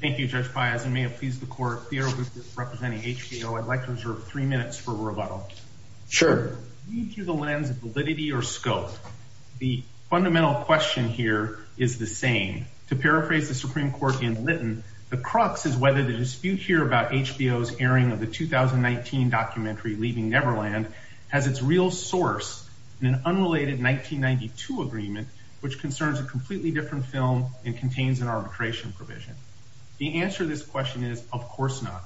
Thank you, Judge Piazza. May it please the Court, Theodore Griffith representing HBO, I'd like to reserve three minutes for rebuttal. Sure. Lead through the lens of validity or scope. The fundamental question here is the same. To paraphrase the Supreme Court in Lytton, the crux is whether the dispute here about HBO's airing of the 2019 documentary Leaving Neverland has its real source in an unrelated 1992 agreement which concerns a completely different film and contains an arbitration provision. The answer to this question is of course not.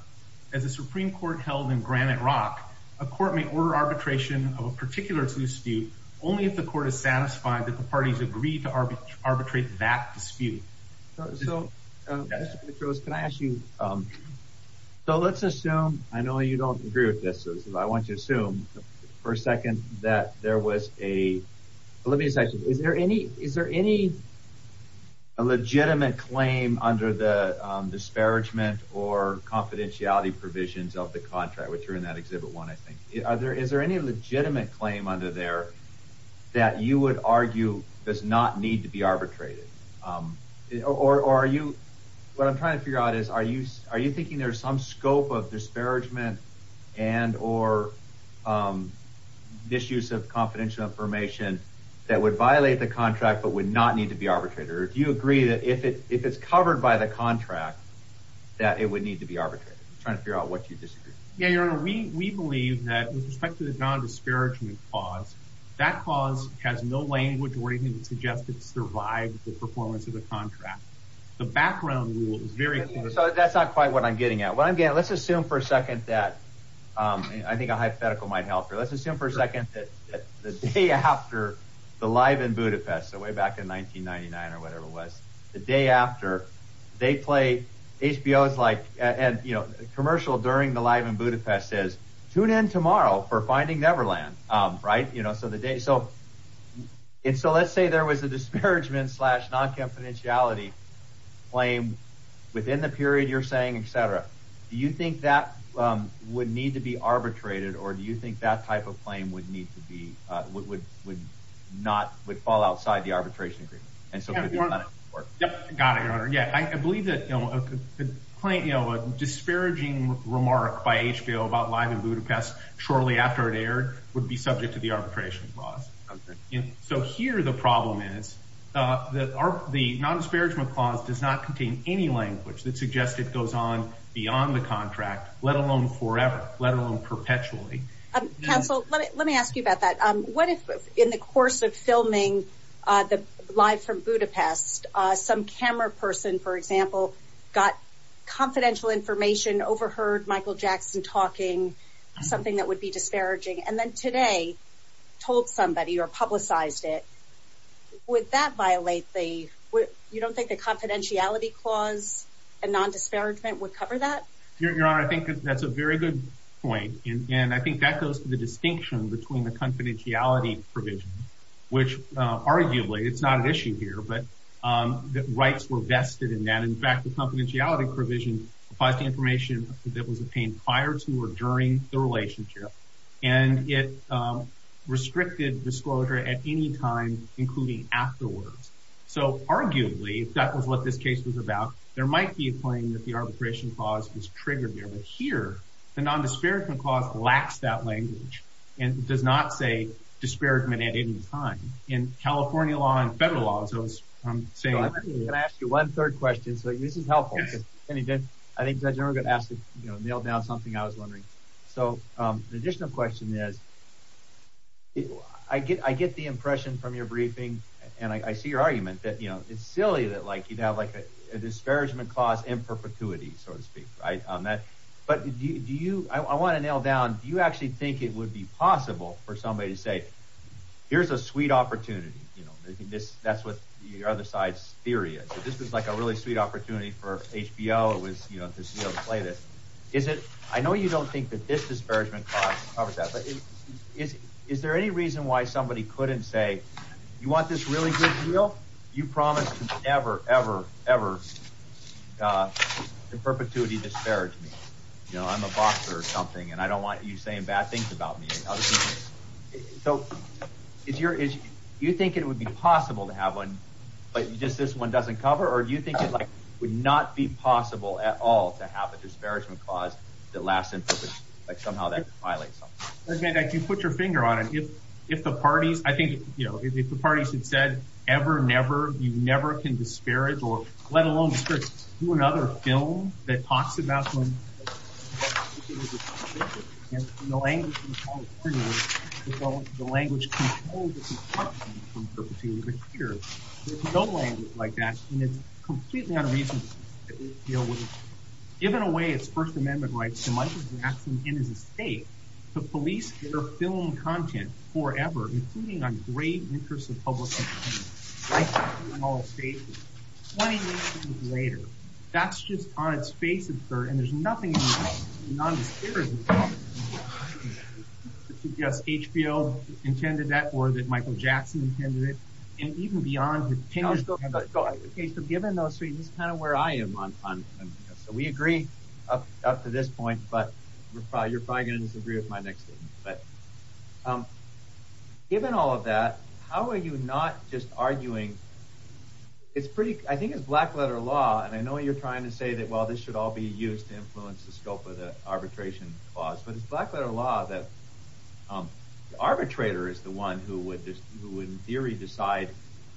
As a Supreme Court held in Granite Rock, a court may order arbitration of a particular dispute only if the court is satisfied that the parties agreed to arbitrate that dispute. So, Mr. Petros, can I ask you, so let's assume, I know you don't agree with this, so I want you to assume for a second that there was a, let me just ask you, is there any, a legitimate claim under the disparagement or confidentiality provisions of the contract, which are in that Exhibit 1, I think. Are there, is there any legitimate claim under there that you would argue does not need to be arbitrated? Or are you, what I'm trying to figure out is, are you, are you thinking there's some scope of disparagement and or misuse of confidential information that would violate the contract but would not need to be arbitrated? Or do you agree that if it, if it's covered by the contract that it would need to be arbitrated? I'm trying to figure out what you disagree. Yeah, Your Honor, we, we believe that with respect to the non-disparagement clause, that clause has no language or anything to suggest it survived the performance of the contract. The background rule is very clear. So that's not quite what I'm getting at. What I'm getting, let's assume for a second that, I think a hypothetical might help here. Let's assume for a second that the day after the Live in Budapest, so way back in 1999 or whatever it was, the day after, they play HBO's like, and you know, commercial during the Live in Budapest says, tune in tomorrow for Finding Neverland, right? You know, so the day, so, and so let's say there was a disparagement slash non-confidentiality claim within the period you're saying, et cetera. Do you think that would need to be arbitrated? Or do you think that type of claim would need to be, would, would not, would fall outside the arbitration agreement? And so got it, Your Honor. Yeah. I believe that, you know, a complaint, you know, a disparaging remark by HBO about Live in Budapest shortly after it aired would be subject to the arbitration clause. So here, the problem is that our, the non-disparagement clause does not contain any language that suggests it goes on beyond the contract, let alone forever, let alone perpetually. Counsel, let me ask you about that. What if in the course of filming the Live from Budapest, some camera person, for example, got confidential information, overheard Michael Jackson talking something that would be disparaging, and then today told somebody or publicized it, would that violate the, you don't think the confidentiality clause and non-disparagement would cover that? Your Honor, I think that's a very good point. And I think that goes to the distinction between the confidentiality provision, which arguably it's not an issue here, but the rights were vested in that. In fact, the confidentiality provision applies to information that was obtained prior to or during the relationship. And it restricted disclosure at any time, including afterwards. So arguably, if that was what this case was about, there might be a claim that the arbitration clause was triggered here. But here, the non-disparagement clause lacks that language and does not say disparagement at any time. In California law and federal law, as I was saying. I'm going to ask you one third question. So this is helpful. I think Judge Irwin asked to nail down something I was wondering. So the additional question is, I get the impression from your briefing, and I see your argument, that it's silly that you'd have a disparagement clause in perpetuity, so to speak. But I want to nail down, do you actually think it would be possible for somebody to say, here's a sweet opportunity? That's what the other theory is. This was like a really sweet opportunity for HBO to be able to play this. I know you don't think that this disparagement clause covers that, but is there any reason why somebody couldn't say, you want this really good deal? You promised to never, ever, ever in perpetuity disparage me. I'm a boxer or something, and I don't want you saying bad things about me. So do you think it would be possible to have one, but just this one doesn't cover? Or do you think it would not be possible at all to have a disparagement clause that lasts in perpetuity, like somehow that violates something? If you put your finger on it, if the parties had said ever, never, you never can disparage or let alone do another film that is in perpetuity. There's no language like that, and it's completely unreasonable. Given away its first amendment rights to Michael Jackson in his estate, the police are filming content forever, including on great interests of public rights. 20 years later, that's just on its face, and there's nothing in it that's non-disparaging. Yes, HBO intended that, or that Michael Jackson intended it, and even beyond. Okay, so given those things, this is kind of where I am on this. So we agree up to this point, but you're probably going to disagree with my next statement. But given all of that, how are you not just arguing? I think it's black letter law, and I know you're trying to say that, well, this should all be used to influence the scope of the arbitration clause, but it's black letter law that the arbitrator is the one who would in theory decide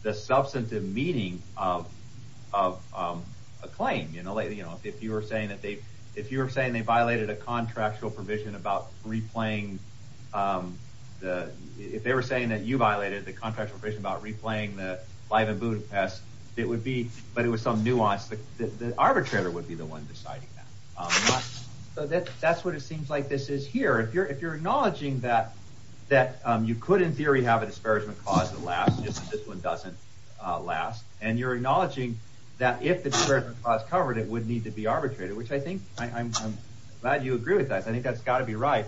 the substantive meaning of a claim. If you were saying they violated a contractual provision, if they were saying that you violated the contractual provision about replaying the live and boot pest, it would be, but it was some nuance, the arbitrator would be the one deciding that. So that's what it seems like this is here. If you're acknowledging that you could in theory have a disparagement clause that lasts, just that this one doesn't last, and you're acknowledging that if the disparagement clause is covered, it would need to be arbitrated, which I think, I'm glad you agree with that. I think that's got to be right.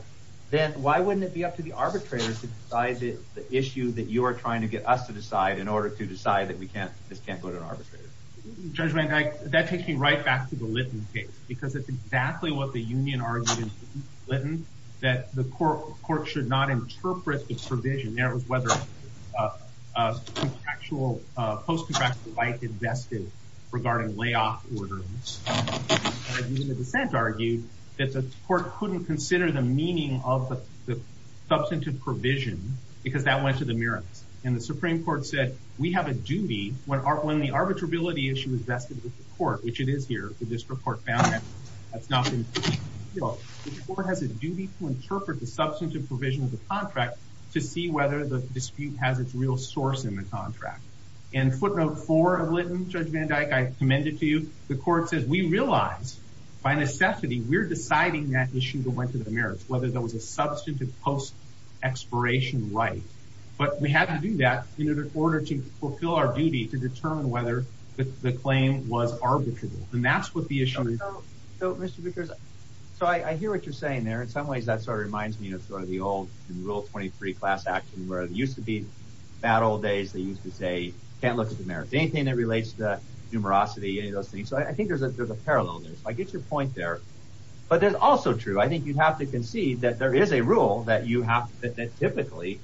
Then why wouldn't it be up to the arbitrator to decide the issue that you are trying to get us to decide in order to decide that we can't, this can't go to an arbitrator? Judgment, that takes me right back to the Litton case, because it's exactly what the union argued in Litton, that the court should not interpret the provision. There was whether a contractual, a post contractual right invested regarding layoff order. Even the dissent argued that the court couldn't consider the meaning of the substantive provision because that went to the mirror. And the Supreme Court said, we have a duty when our, when the arbitrability issue is vested with the court, which it is here, the district court found that that's not been, you know, the court has a duty to interpret the substantive provision of the contract to see whether the dispute has its real source in the contract. And footnote four Judge Van Dyke, I commend it to you. The court says we realize by necessity, we're deciding that issue that went to the merits, whether there was a substantive post expiration, right. But we have to do that in order to fulfill our duty to determine whether the claim was arbitrable. And that's what the issue is. So I hear what you're saying there. In some ways, that sort of reminds me of sort of the old rule 23 class action, where it used to be battle days. They used to say, can't look at the merits, anything that relates to the numerosity, any of those things. So I think there's a, there's a parallel there. So I get your point there, but there's also true. I think you'd have to concede that there is a rule that you have to fit that typically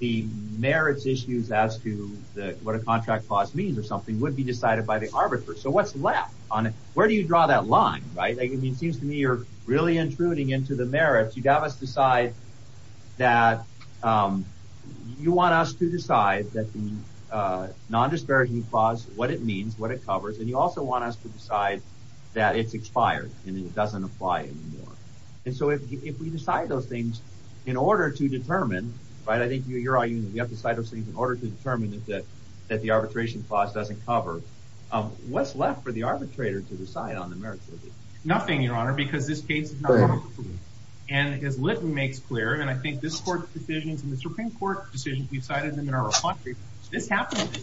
the merits issues as to the, what a contract clause means or something would be decided by the arbiters. So what's left on it? Where do you draw that line? Right. I mean, it seems to me you're really intruding into the merits. You'd have us decide that you want us to decide that the non-disparaging clause, what it means, what it covers. And you also want us to decide that it's expired and it doesn't apply anymore. And so if we decide those things in order to determine, right, I think you're arguing that we have to decide those things in order to determine that, that, that the arbitration clause doesn't cover what's left for the arbitrator to decide on the merits of it. Nothing, Your Honor, because this case is not overproven. And as Litton makes clear, and I think this court's decisions and the Supreme Court decisions, we've cited them in our report. This happened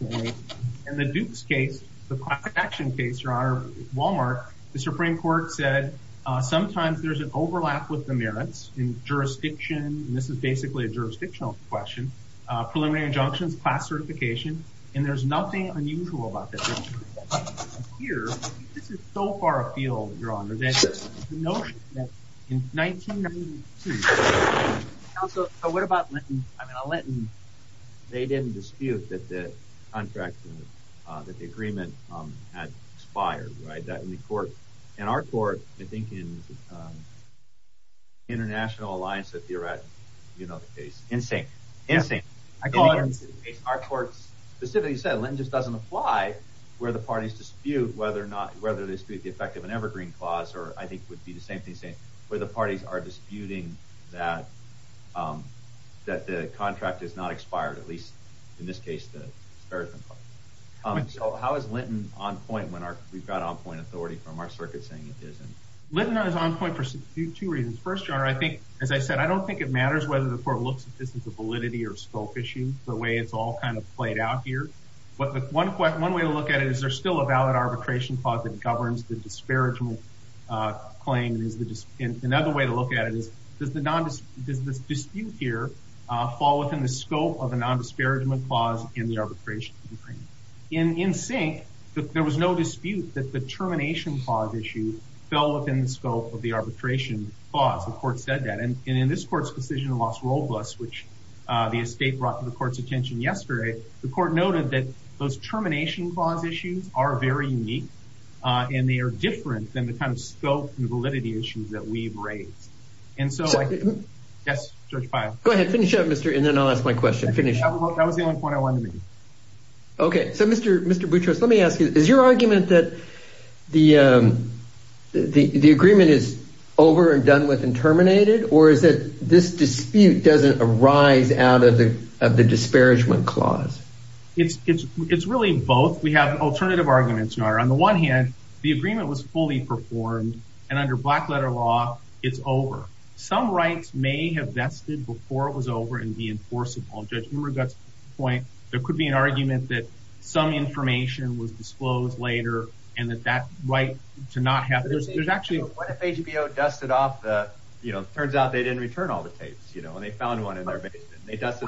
in the Duke's case, the class action case, Your Honor, Walmart, the Supreme Court said, sometimes there's an overlap with the merits in jurisdiction. And this is basically a jurisdictional question, preliminary injunctions, class certification, and there's nothing unusual about that. Here, this is so far afield, Your Honor, the notion that in 1992, so what about Litton? I mean, Litton, they didn't dispute that the contract, that the agreement had expired, right? That in the court, in our court, I think in the International Alliance of Theoreticians, you know, the case, NSYNC, NSYNC, I call it NSYNC, our court specifically said Litton just doesn't apply where the parties dispute whether or not, whether they dispute the effect of an evergreen clause, or I think would be the same thing saying where the parties are disputing that, that the contract is not expired, at least in this case, the American part. So how is Litton on point when we've got on-point authority from our circuit saying it isn't? Litton is on point for two reasons. First, Your Honor, I think, as I said, I don't think it matters whether the court looks at this as a validity or a scope issue, the way it's all kind of played out here. But one way to look at it is there's still a valid arbitration clause that governs the disparagement claim. Another way to look at it is does the dispute here fall within the scope of a nondisparagement clause in the arbitration agreement? In NSYNC, there was no dispute that the termination clause issue fell within the scope of the arbitration clause. The court said that. And in this court's decision in Los Robles, which the estate brought to the court's attention yesterday, the court noted that those termination clause issues are very unique and they are different than the kind of scope and validity issues that we've raised. And so, yes, Judge Pyle. Go ahead. Finish up, Mr. And then I'll ask my question. Finish. That was the only point I wanted to make. Okay. So, Mr. Boutros, let me ask you, is your argument that the agreement is over and done with and terminated? Or is it this dispute doesn't arise out of the disparagement clause? It's really both. We have alternative arguments. On the one hand, the agreement was fully performed and under black letter law, it's over. Some rights may have vested before it was over and be enforceable. Judge Hummer got to the point, there could be an argument that some information was disclosed later and that that right to not have. There's actually. What if HBO dusted off the, you know, it turns out they didn't return all the tapes, you know, and they found one in their basement. They just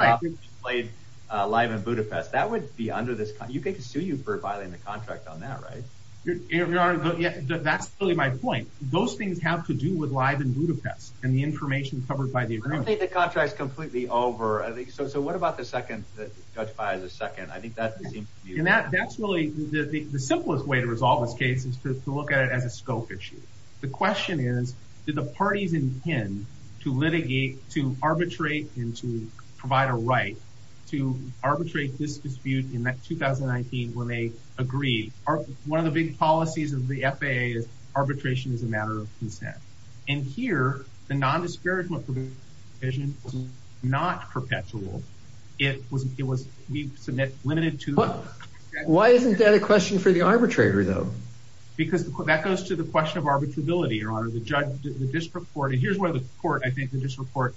played live in Budapest. That would be under this. You could sue you for violating the contract on that, right? That's really my point. Those things have to do with live in Budapest and the information covered by the agreement. I think the contract is completely over. So what about the second that Judge Pyle is a second? I think that that's really the simplest way to resolve this case is to look at it as a scope issue. The question is, did the parties intend to litigate, to arbitrate and to provide a right to arbitrate this dispute in 2019 when they agreed? One of the big policies of the FAA is arbitration is a matter of consent. And here, the nondisparagement provision is not perpetual. It was it was we submit limited to. Why isn't that a question for the arbitrator, though? Because that goes to the question of arbitrability, your honor, the judge, the district court. And here's where the court, I think the district court,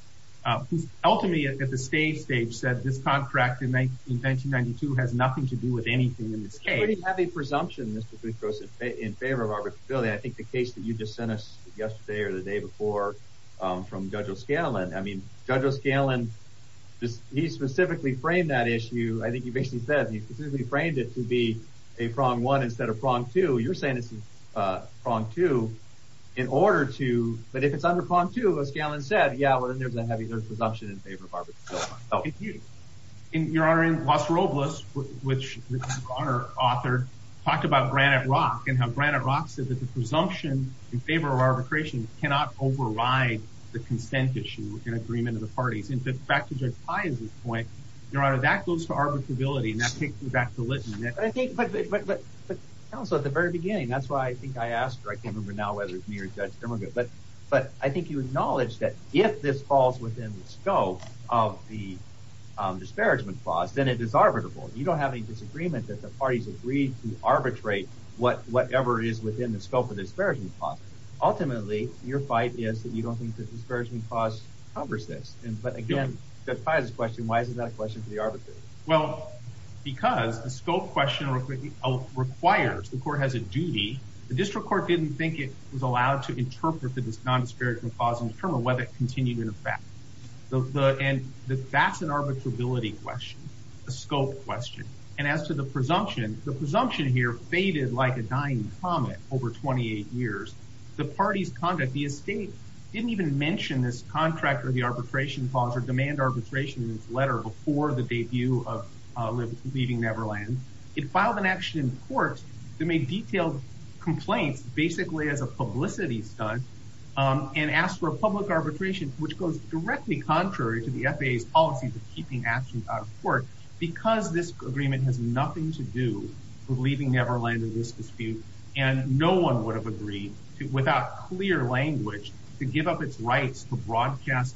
ultimately at the state stage, said this contract in 1992 has nothing to do with anything in this case. We have a presumption in favor of arbitrability. I think the case that you just sent us yesterday or the day before from Judge O'Scanlan, I mean, Judge O'Scanlan, he specifically framed that issue. I think he basically said he framed it to be a prong one instead of prong two. You're saying it's a prong two in order to. But if it's under prong two, O'Scanlan said, yeah, well, then there's a heavy presumption in favor of arbitration. And your honor, in Los Robles, which our author talked about Granite Rock and how Granite Rock said that the presumption in favor of arbitration cannot override the consent issue in agreement of the parties. And back to Judge Pai's point, your honor, that goes to arbitrability and that the very beginning. That's why I think I asked, or I can't remember now whether it's me or Judge Dermogood, but I think you acknowledged that if this falls within the scope of the disparagement clause, then it is arbitrable. You don't have any disagreement that the parties agreed to arbitrate whatever is within the scope of the disparagement clause. Ultimately, your fight is that you don't think the disparagement clause covers this. But again, Judge Pai's question, why isn't that a question for the arbitrator? Well, because the scope question requires the court has a duty. The district court didn't think it was allowed to interpret the non-disparagement clause and determine whether it continued in effect. And that's an arbitrability question, a scope question. And as to the presumption, the presumption here faded like a dying comet over 28 years. The party's conduct, the estate didn't even mention this contract or the arbitration clause or demand arbitration in its letter before the debut of Leaving Neverland. It filed an action in court that made detailed complaints basically as a publicity stunt and asked for a public arbitration, which goes directly contrary to the FAA's policies of keeping actions out of court, because this agreement has nothing to do with Leaving Neverland in this dispute. And no one would have agreed without clear language to give up its rights to broadcast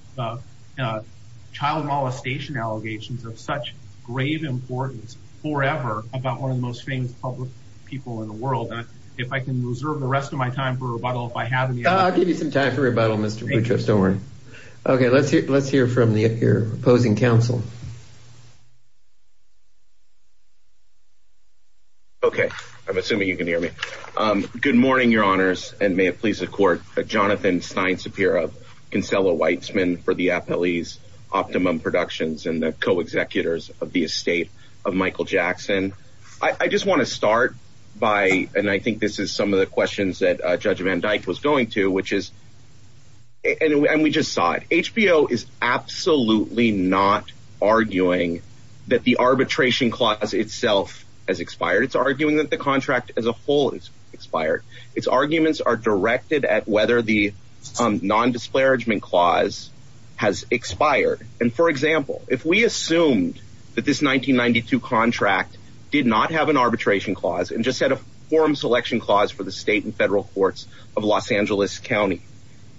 child molestation allegations of such grave importance forever about one of the most famous public people in the world. And if I can reserve the rest of my time for rebuttal, if I have any. I'll give you some time for rebuttal, Mr. Boutrous, don't worry. Okay, let's hear from your opposing counsel. Okay, I'm assuming you can hear me. Good morning, your honors, and may it please the court. Jonathan Stein Sapir of Kinsella Weitzman for the FLE's Optimum Productions and the co-executors of the estate of Michael Jackson. I just want to start by, and I think this is some of the questions that Judge Van Dyke was going to, which is, and we just saw it, HBO is absolutely not arguing that the arbitration clause itself has expired. It's arguing that the contract as a whole is its arguments are directed at whether the non-disparagement clause has expired. And for example, if we assumed that this 1992 contract did not have an arbitration clause and just had a forum selection clause for the state and federal courts of Los Angeles County,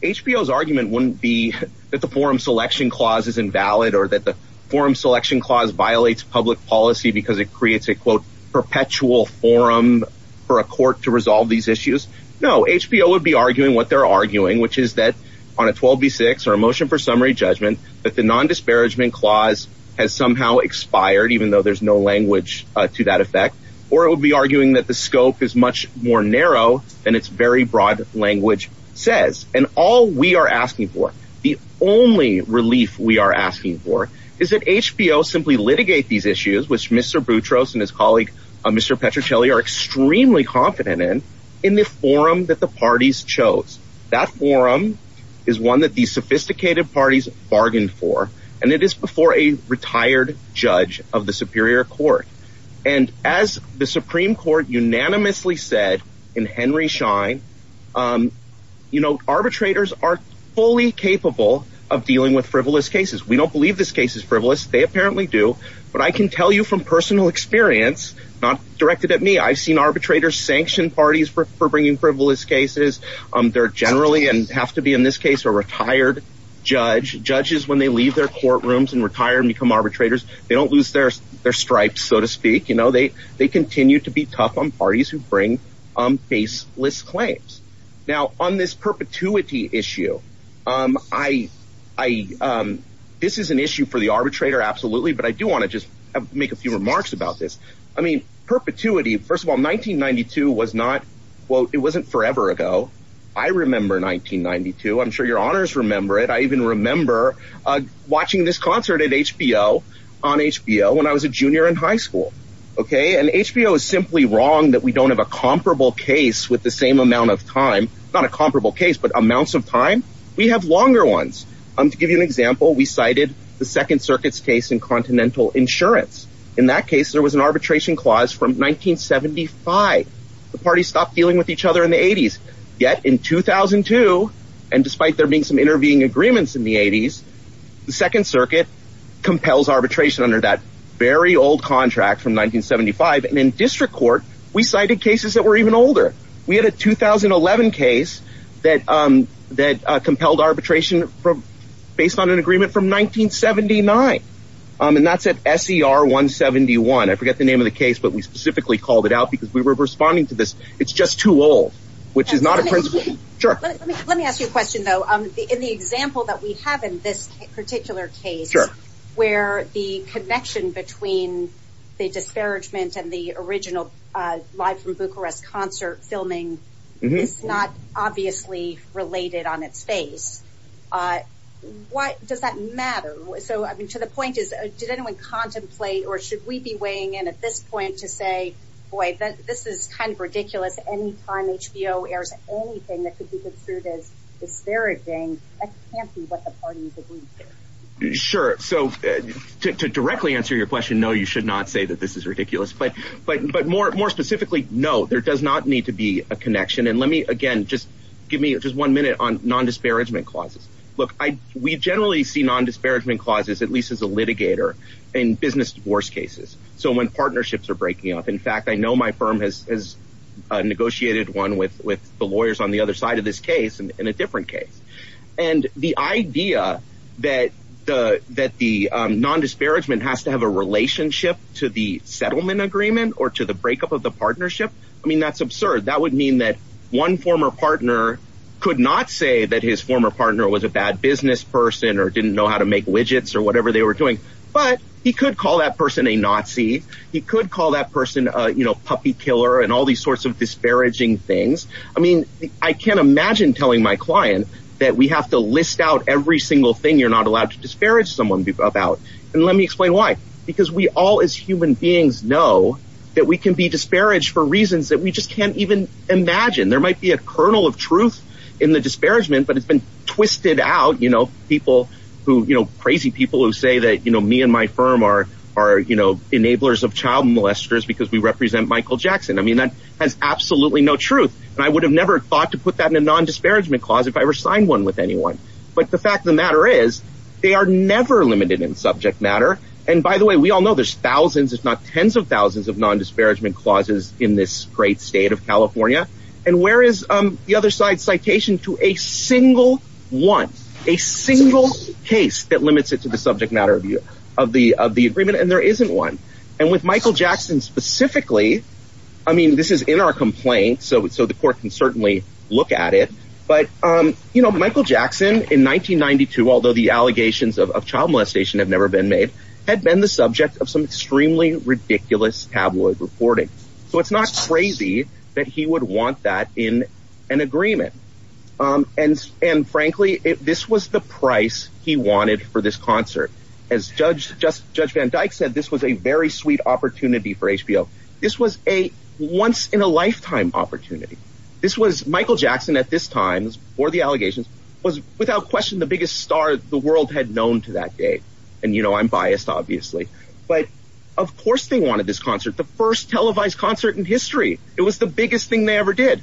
HBO's argument wouldn't be that the forum selection clause is invalid or that the forum selection clause violates public policy because it creates a quote, perpetual forum for a court to resolve these issues. No, HBO would be arguing what they're arguing, which is that on a 12 v six or a motion for summary judgment, that the non-disparagement clause has somehow expired, even though there's no language to that effect, or it would be arguing that the scope is much more narrow than its very broad language says. And all we are asking for, the only relief we are asking for is that HBO simply litigate these issues, which Mr. Boutros and his colleague, Mr. Petricelli are extremely confident in, in the forum that the parties chose. That forum is one that these sophisticated parties bargained for, and it is before a retired judge of the superior court. And as the Supreme Court unanimously said in Henry Schein, um, you know, arbitrators are fully capable of dealing with frivolous cases. We don't believe this case is frivolous. They apparently do, but I can tell you from personal experience, not directed at me, I've seen arbitrators sanction parties for bringing frivolous cases. Um, they're generally, and have to be in this case, a retired judge judges when they leave their courtrooms and retire and become arbitrators, they don't lose their, their stripes, so to speak. You know, they, they continue to be tough on parties who bring, um, baseless claims. Now on this perpetuity issue, um, I, I, um, this is an issue for the arbitrator. Absolutely. But I do want to just make a few remarks about this. I mean, perpetuity, first of all, 1992 was not, well, it wasn't forever ago. I remember 1992. I'm sure your honors remember it. I even remember, uh, watching this concert at HBO on HBO when I was a junior in high school. Okay. And HBO is simply wrong that we don't have a comparable case with the same amount of time, not a comparable case, but amounts of time. We have longer ones. Um, to give you an example, we cited the second circuit's case in continental insurance. In that case, there was an arbitration clause from 1975. The party stopped dealing with each other in the eighties yet in 2002. And despite there being some intervening agreements in the eighties, the second circuit compels arbitration under that very old contract from 1975. And in district court, we cited cases that were even older. We had a 2011 case that, um, that, uh, compelled arbitration from based on an agreement from 1979. Um, and that's at SCR one 71. I forget the name of the case, but we specifically called it out because we were responding to this. It's just too old, which is not a principle. Sure. Let me, let me ask you a question though. Um, in the example that we have in this particular case where the connection between the disparagement and the original, uh, live from Bucharest concert filming, it's not obviously related on its face. Uh, why does that matter? So, I mean, to the point is, did anyone contemplate, or should we be weighing in at this point to say, boy, this is kind of ridiculous. Anytime HBO airs anything that could be construed as disparaging. I can't see what the parties agree. Sure. So to, to directly answer your question, no, you should not say that this is ridiculous, but, but, but more, more specifically, no, there does not need to be a connection. And let me, again, just give me just one minute on non-disparagement clauses. Look, I, we generally see non-disparagement clauses, at least as a litigator in business divorce cases. So when has a negotiated one with, with the lawyers on the other side of this case and in a different case and the idea that the, that the, um, non-disparagement has to have a relationship to the settlement agreement or to the breakup of the partnership. I mean, that's absurd. That would mean that one former partner could not say that his former partner was a bad business person or didn't know how to make widgets or whatever they were doing, but he could call that person a Nazi. He could call that person a, you know, puppy killer and all these sorts of disparaging things. I mean, I can't imagine telling my client that we have to list out every single thing. You're not allowed to disparage someone about, and let me explain why, because we all as human beings know that we can be disparaged for reasons that we just can't even imagine. There might be a kernel of truth in the disparagement, but it's been twisted out. You know, people who, you know, enablers of child molesters, because we represent Michael Jackson. I mean, that has absolutely no truth. And I would have never thought to put that in a non-disparagement clause if I ever signed one with anyone. But the fact of the matter is they are never limited in subject matter. And by the way, we all know there's thousands, if not tens of thousands of non-disparagement clauses in this great state of California. And where is the other side citation to a single one, a single case that limits it to the subject matter of the agreement? And there isn't one. And with Michael Jackson specifically, I mean, this is in our complaint, so the court can certainly look at it. But, you know, Michael Jackson in 1992, although the allegations of child molestation have never been made, had been the subject of some extremely ridiculous tabloid reporting. So it's not crazy that he would want that in an agreement. And and frankly, this was the price he wanted for this concert. As Judge Van Dyke said, this was a very sweet opportunity for HBO. This was a once in a lifetime opportunity. This was Michael Jackson at this time or the allegations was without question the biggest star the world had known to that day. And, you know, I'm biased, obviously, but of course they wanted this concert, the first televised concert in history. It was the biggest thing they ever did.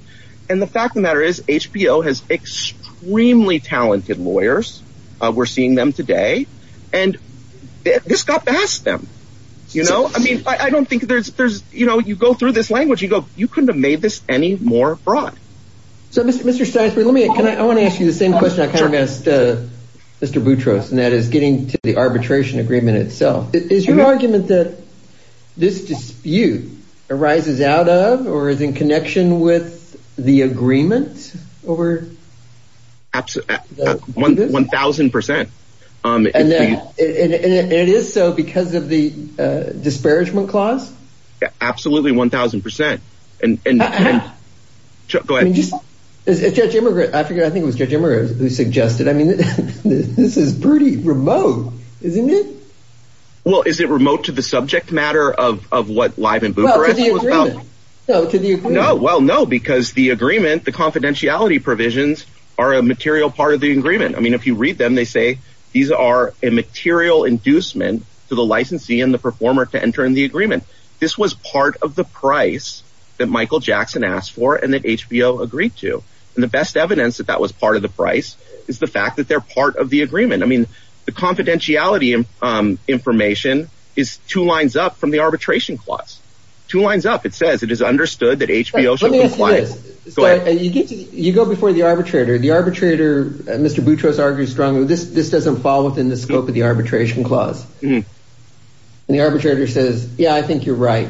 And the fact of the matter is HBO has extremely talented lawyers. We're seeing them today. And this got past them. You know, I mean, I don't think there's there's you know, you go through this language, you go, you couldn't have made this any more broad. So, Mr. Steinberg, let me I want to ask you the same question I kind of asked Mr. Boutros, and that is getting to the arbitration agreement itself. Is your argument that this dispute arises out of or is in connection with the agreement over? Absolutely. One thousand percent. And it is so because of the disparagement clause. Absolutely. One thousand percent. And go ahead. Judge Immigrant, I think it was Judge Immigrant who suggested, I mean, this is pretty remote, isn't it? Well, is it remote to the subject matter of what live in Bucharest? Well, no, because the agreement, the confidentiality provisions are a material part of the agreement. I mean, if you read them, they say these are a material inducement to the licensee and the performer to enter in the agreement. This was part of the price that Michael Jackson asked for and that HBO agreed to. And the best evidence that that was part of the price is the fact that they're part of the agreement. I mean, the confidentiality information is two lines up from the arbitration clause, two lines up. It says it is understood that HBO should be quiet. You go before the arbitrator, the arbitrator, Mr. Boutros argues strongly. This doesn't fall within the scope of the arbitration clause. The arbitrator says, yeah, I think you're right.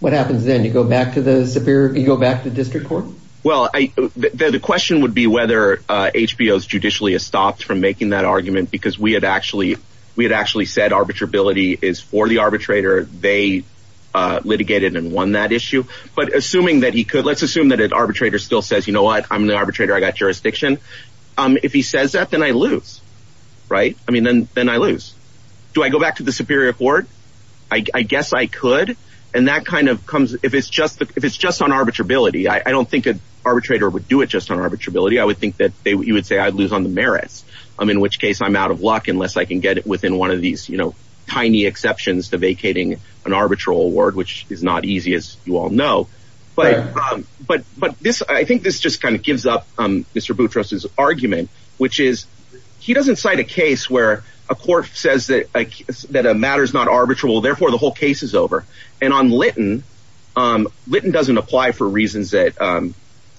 What happens then? You go back to the superior, you go back to district court. Well, the question would be whether HBO is judicially stopped from making that argument, because we had actually we had actually said arbitrability is for the arbitrator. They litigated and won that issue. But assuming that he could, let's assume that an arbitrator still says, you know what, I'm the arbitrator. I got jurisdiction. If he says that, then I lose. Right. I mean, then then I lose. Do I go back to the superior court? I guess I could. And that kind of comes if it's just if it's just on arbitrability. I don't think an arbitrator would do it just on arbitrability. I would think that you would say I'd lose on the merits, in which case I'm out of luck unless I can get it within one of these tiny exceptions to vacating an arbitral award, which is not easy, you all know. But but but this I think this just kind of gives up Mr. Boutros's argument, which is he doesn't cite a case where a court says that that a matter is not arbitrable. Therefore, the whole case is over. And on Lytton, Lytton doesn't apply for reasons that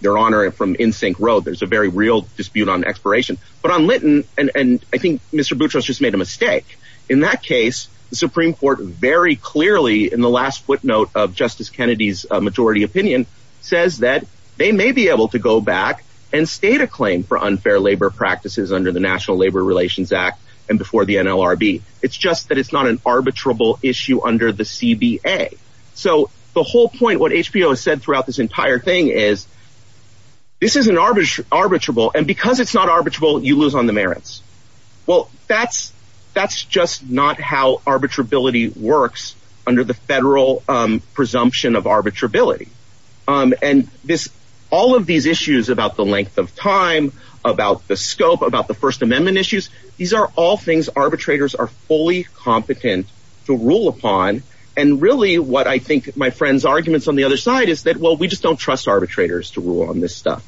their honor from NSYNC wrote. There's a very real dispute on expiration. But on Lytton. And I think Mr. Boutros just made a mistake. In that case, the Supreme Court very clearly in the last footnote of Justice Kennedy's majority opinion says that they may be able to go back and state a claim for unfair labor practices under the National Labor Relations Act and before the NLRB. It's just that it's not an arbitrable issue under the CBA. So the whole point what HBO has said throughout this entire thing is this is an arbitrage arbitrable. And because it's not arbitrable, you lose on the merits. Well, that's that's just not how arbitrability works under the federal presumption of arbitrability. And this all of these issues about the length of time, about the scope, about the First Amendment issues. These are all things arbitrators are fully competent to rule upon. And really what I think my friend's arguments on the other side is that, well, we just don't trust arbitrators to rule on this stuff.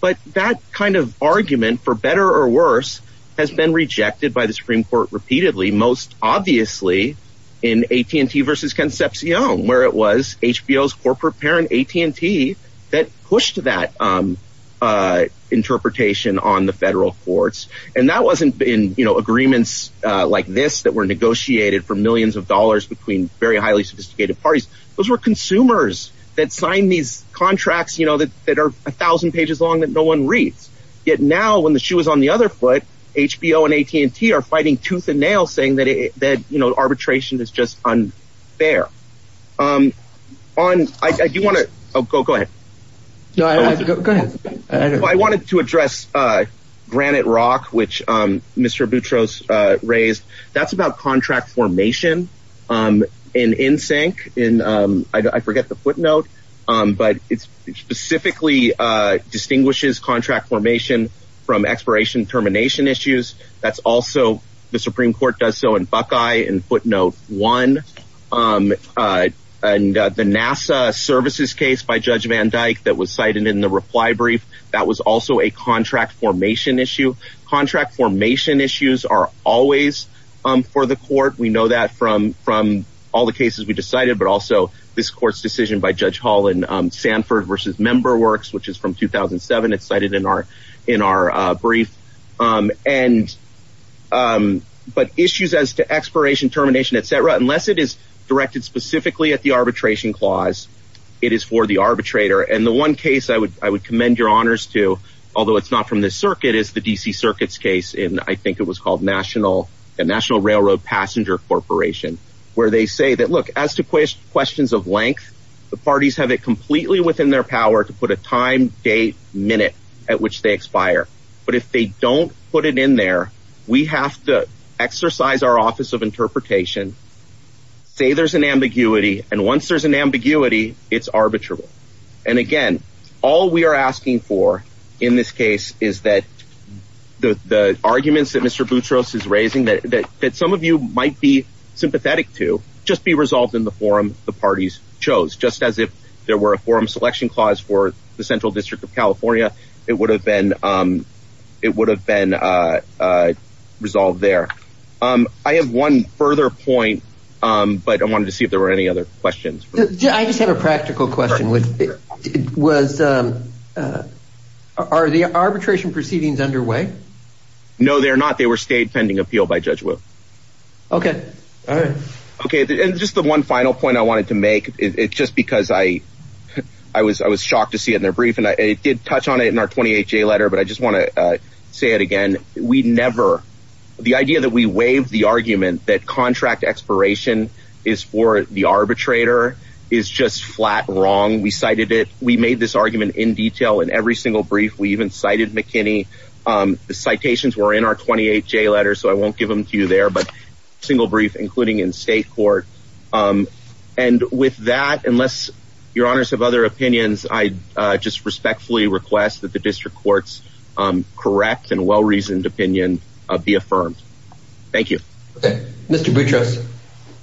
But that kind of argument, for better or for worse, has been rejected by the Supreme Court repeatedly, most obviously in AT&T versus Concepcion, where it was HBO's corporate parent, AT&T, that pushed that interpretation on the federal courts. And that wasn't in agreements like this that were negotiated for millions of dollars between very highly sophisticated parties. Those were consumers that signed these contracts that are a thousand pages long that no one reads. Yet now, when the shoe is on the other foot, HBO and AT&T are fighting tooth and nail, saying that arbitration is just unfair. To address Granite Rock, which Mr. Boutros raised, that's about contract formation in NSYNC. I forget the footnote, but it specifically distinguishes contract formation from expiration termination issues. That's also, the Supreme Court does so in Buckeye in footnote one. And the NASA services case by Judge Van Dyke that was cited in the reply brief, that was also a contract formation issue. Contract formation issues are always for the court. We know that from all the cases we decided, but also this court's decision by Judge Hall in Sanford versus Member Works, which is from 2007. It's cited in our brief. But issues as to expiration termination, et cetera, unless it is directed specifically at the arbitration clause, it is for the arbitrator. And the one case I would commend your honors to, although it's not from this circuit, it is the DC Circuit's case in, I think it was called the National Railroad Passenger Corporation, where they say that, look, as to questions of length, the parties have it completely within their power to put a time, date, minute at which they expire. But if they don't put it in there, we have to exercise our office of interpretation, say there's an ambiguity, and once there's an the arguments that Mr. Boutros is raising that some of you might be sympathetic to, just be resolved in the forum the parties chose, just as if there were a forum selection clause for the Central District of California, it would have been resolved there. I have one further point, but I wanted to see if there were any other questions. I just have a practical question. Are the arbitration proceedings underway? No, they're not. They were stayed pending appeal by Judge Wu. Okay. All right. Okay. And just the one final point I wanted to make, it's just because I was shocked to see it in their brief, and it did touch on it in our 28-J letter, but I just want to say it again. We never, the idea that we waive the argument that contract expiration is for the arbitrator is just flat wrong. We cited it. We made this argument in detail in every single brief. We even cited McKinney. The citations were in our 28-J letter, so I won't give them to you there, but single brief, including in state court. And with that, unless your honors have other opinions, I just respectfully request that the district court's correct and well-reasoned opinion be affirmed. Thank you. Okay. Mr. Boutros.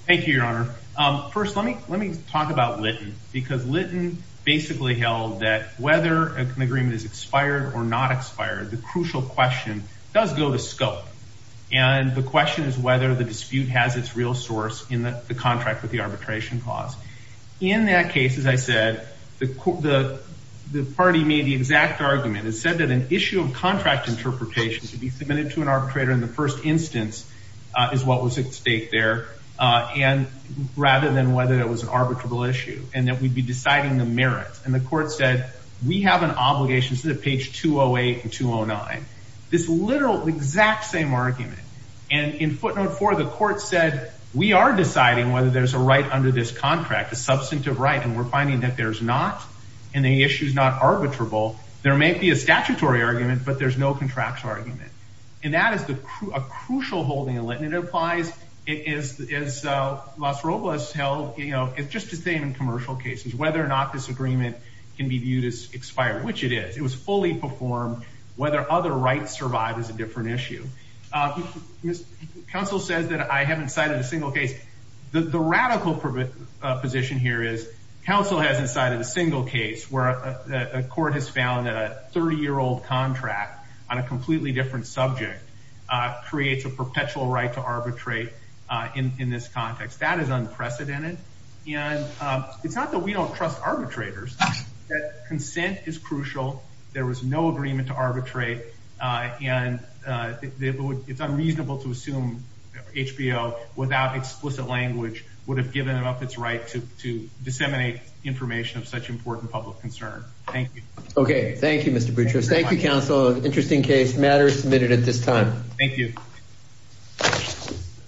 Thank you, your honor. First, let me talk about Litton, because Litton basically held that whether an agreement is expired or not expired, the crucial question does go to scope. And the question is whether the dispute has its real source in the contract with the arbitration clause. In that case, as I said, the party made the exact argument. It said that an issue of contract interpretation to be submitted to an arbitrator in the first instance is what was at stake there, rather than whether it was an arbitrable issue, and that we'd be deciding the merit. And the court said, we have an obligation to the page 208 and 209, this literal exact same argument. And in footnote four, the court said, we are deciding whether there's a right under this contract, a substantive right. And we're finding that there's not, and the issue is not arbitrable. There may be a statutory argument, but there's no contractual argument. And that is a crucial holding in Litton. It applies, as Las Roblas held, you know, it's just the same in commercial cases, whether or not this agreement can be viewed as expired, which it is. It was fully performed, whether other rights survive is a different issue. Counsel says that I haven't cited a single case. The radical position here is, counsel hasn't cited a single case where a court has found that a 30-year-old contract on a completely different subject creates a perpetual right to arbitrate in this context. That is unprecedented. And it's not that we don't trust arbitrators. Consent is crucial. There was no agreement to arbitrate. And it's unreasonable to assume HBO without explicit language would have given it up its right to disseminate information of such important public concern. Thank you. Okay. Thank you, Mr. Boutrous. Thank you, counsel. Interesting case matters submitted at this time. Thank you.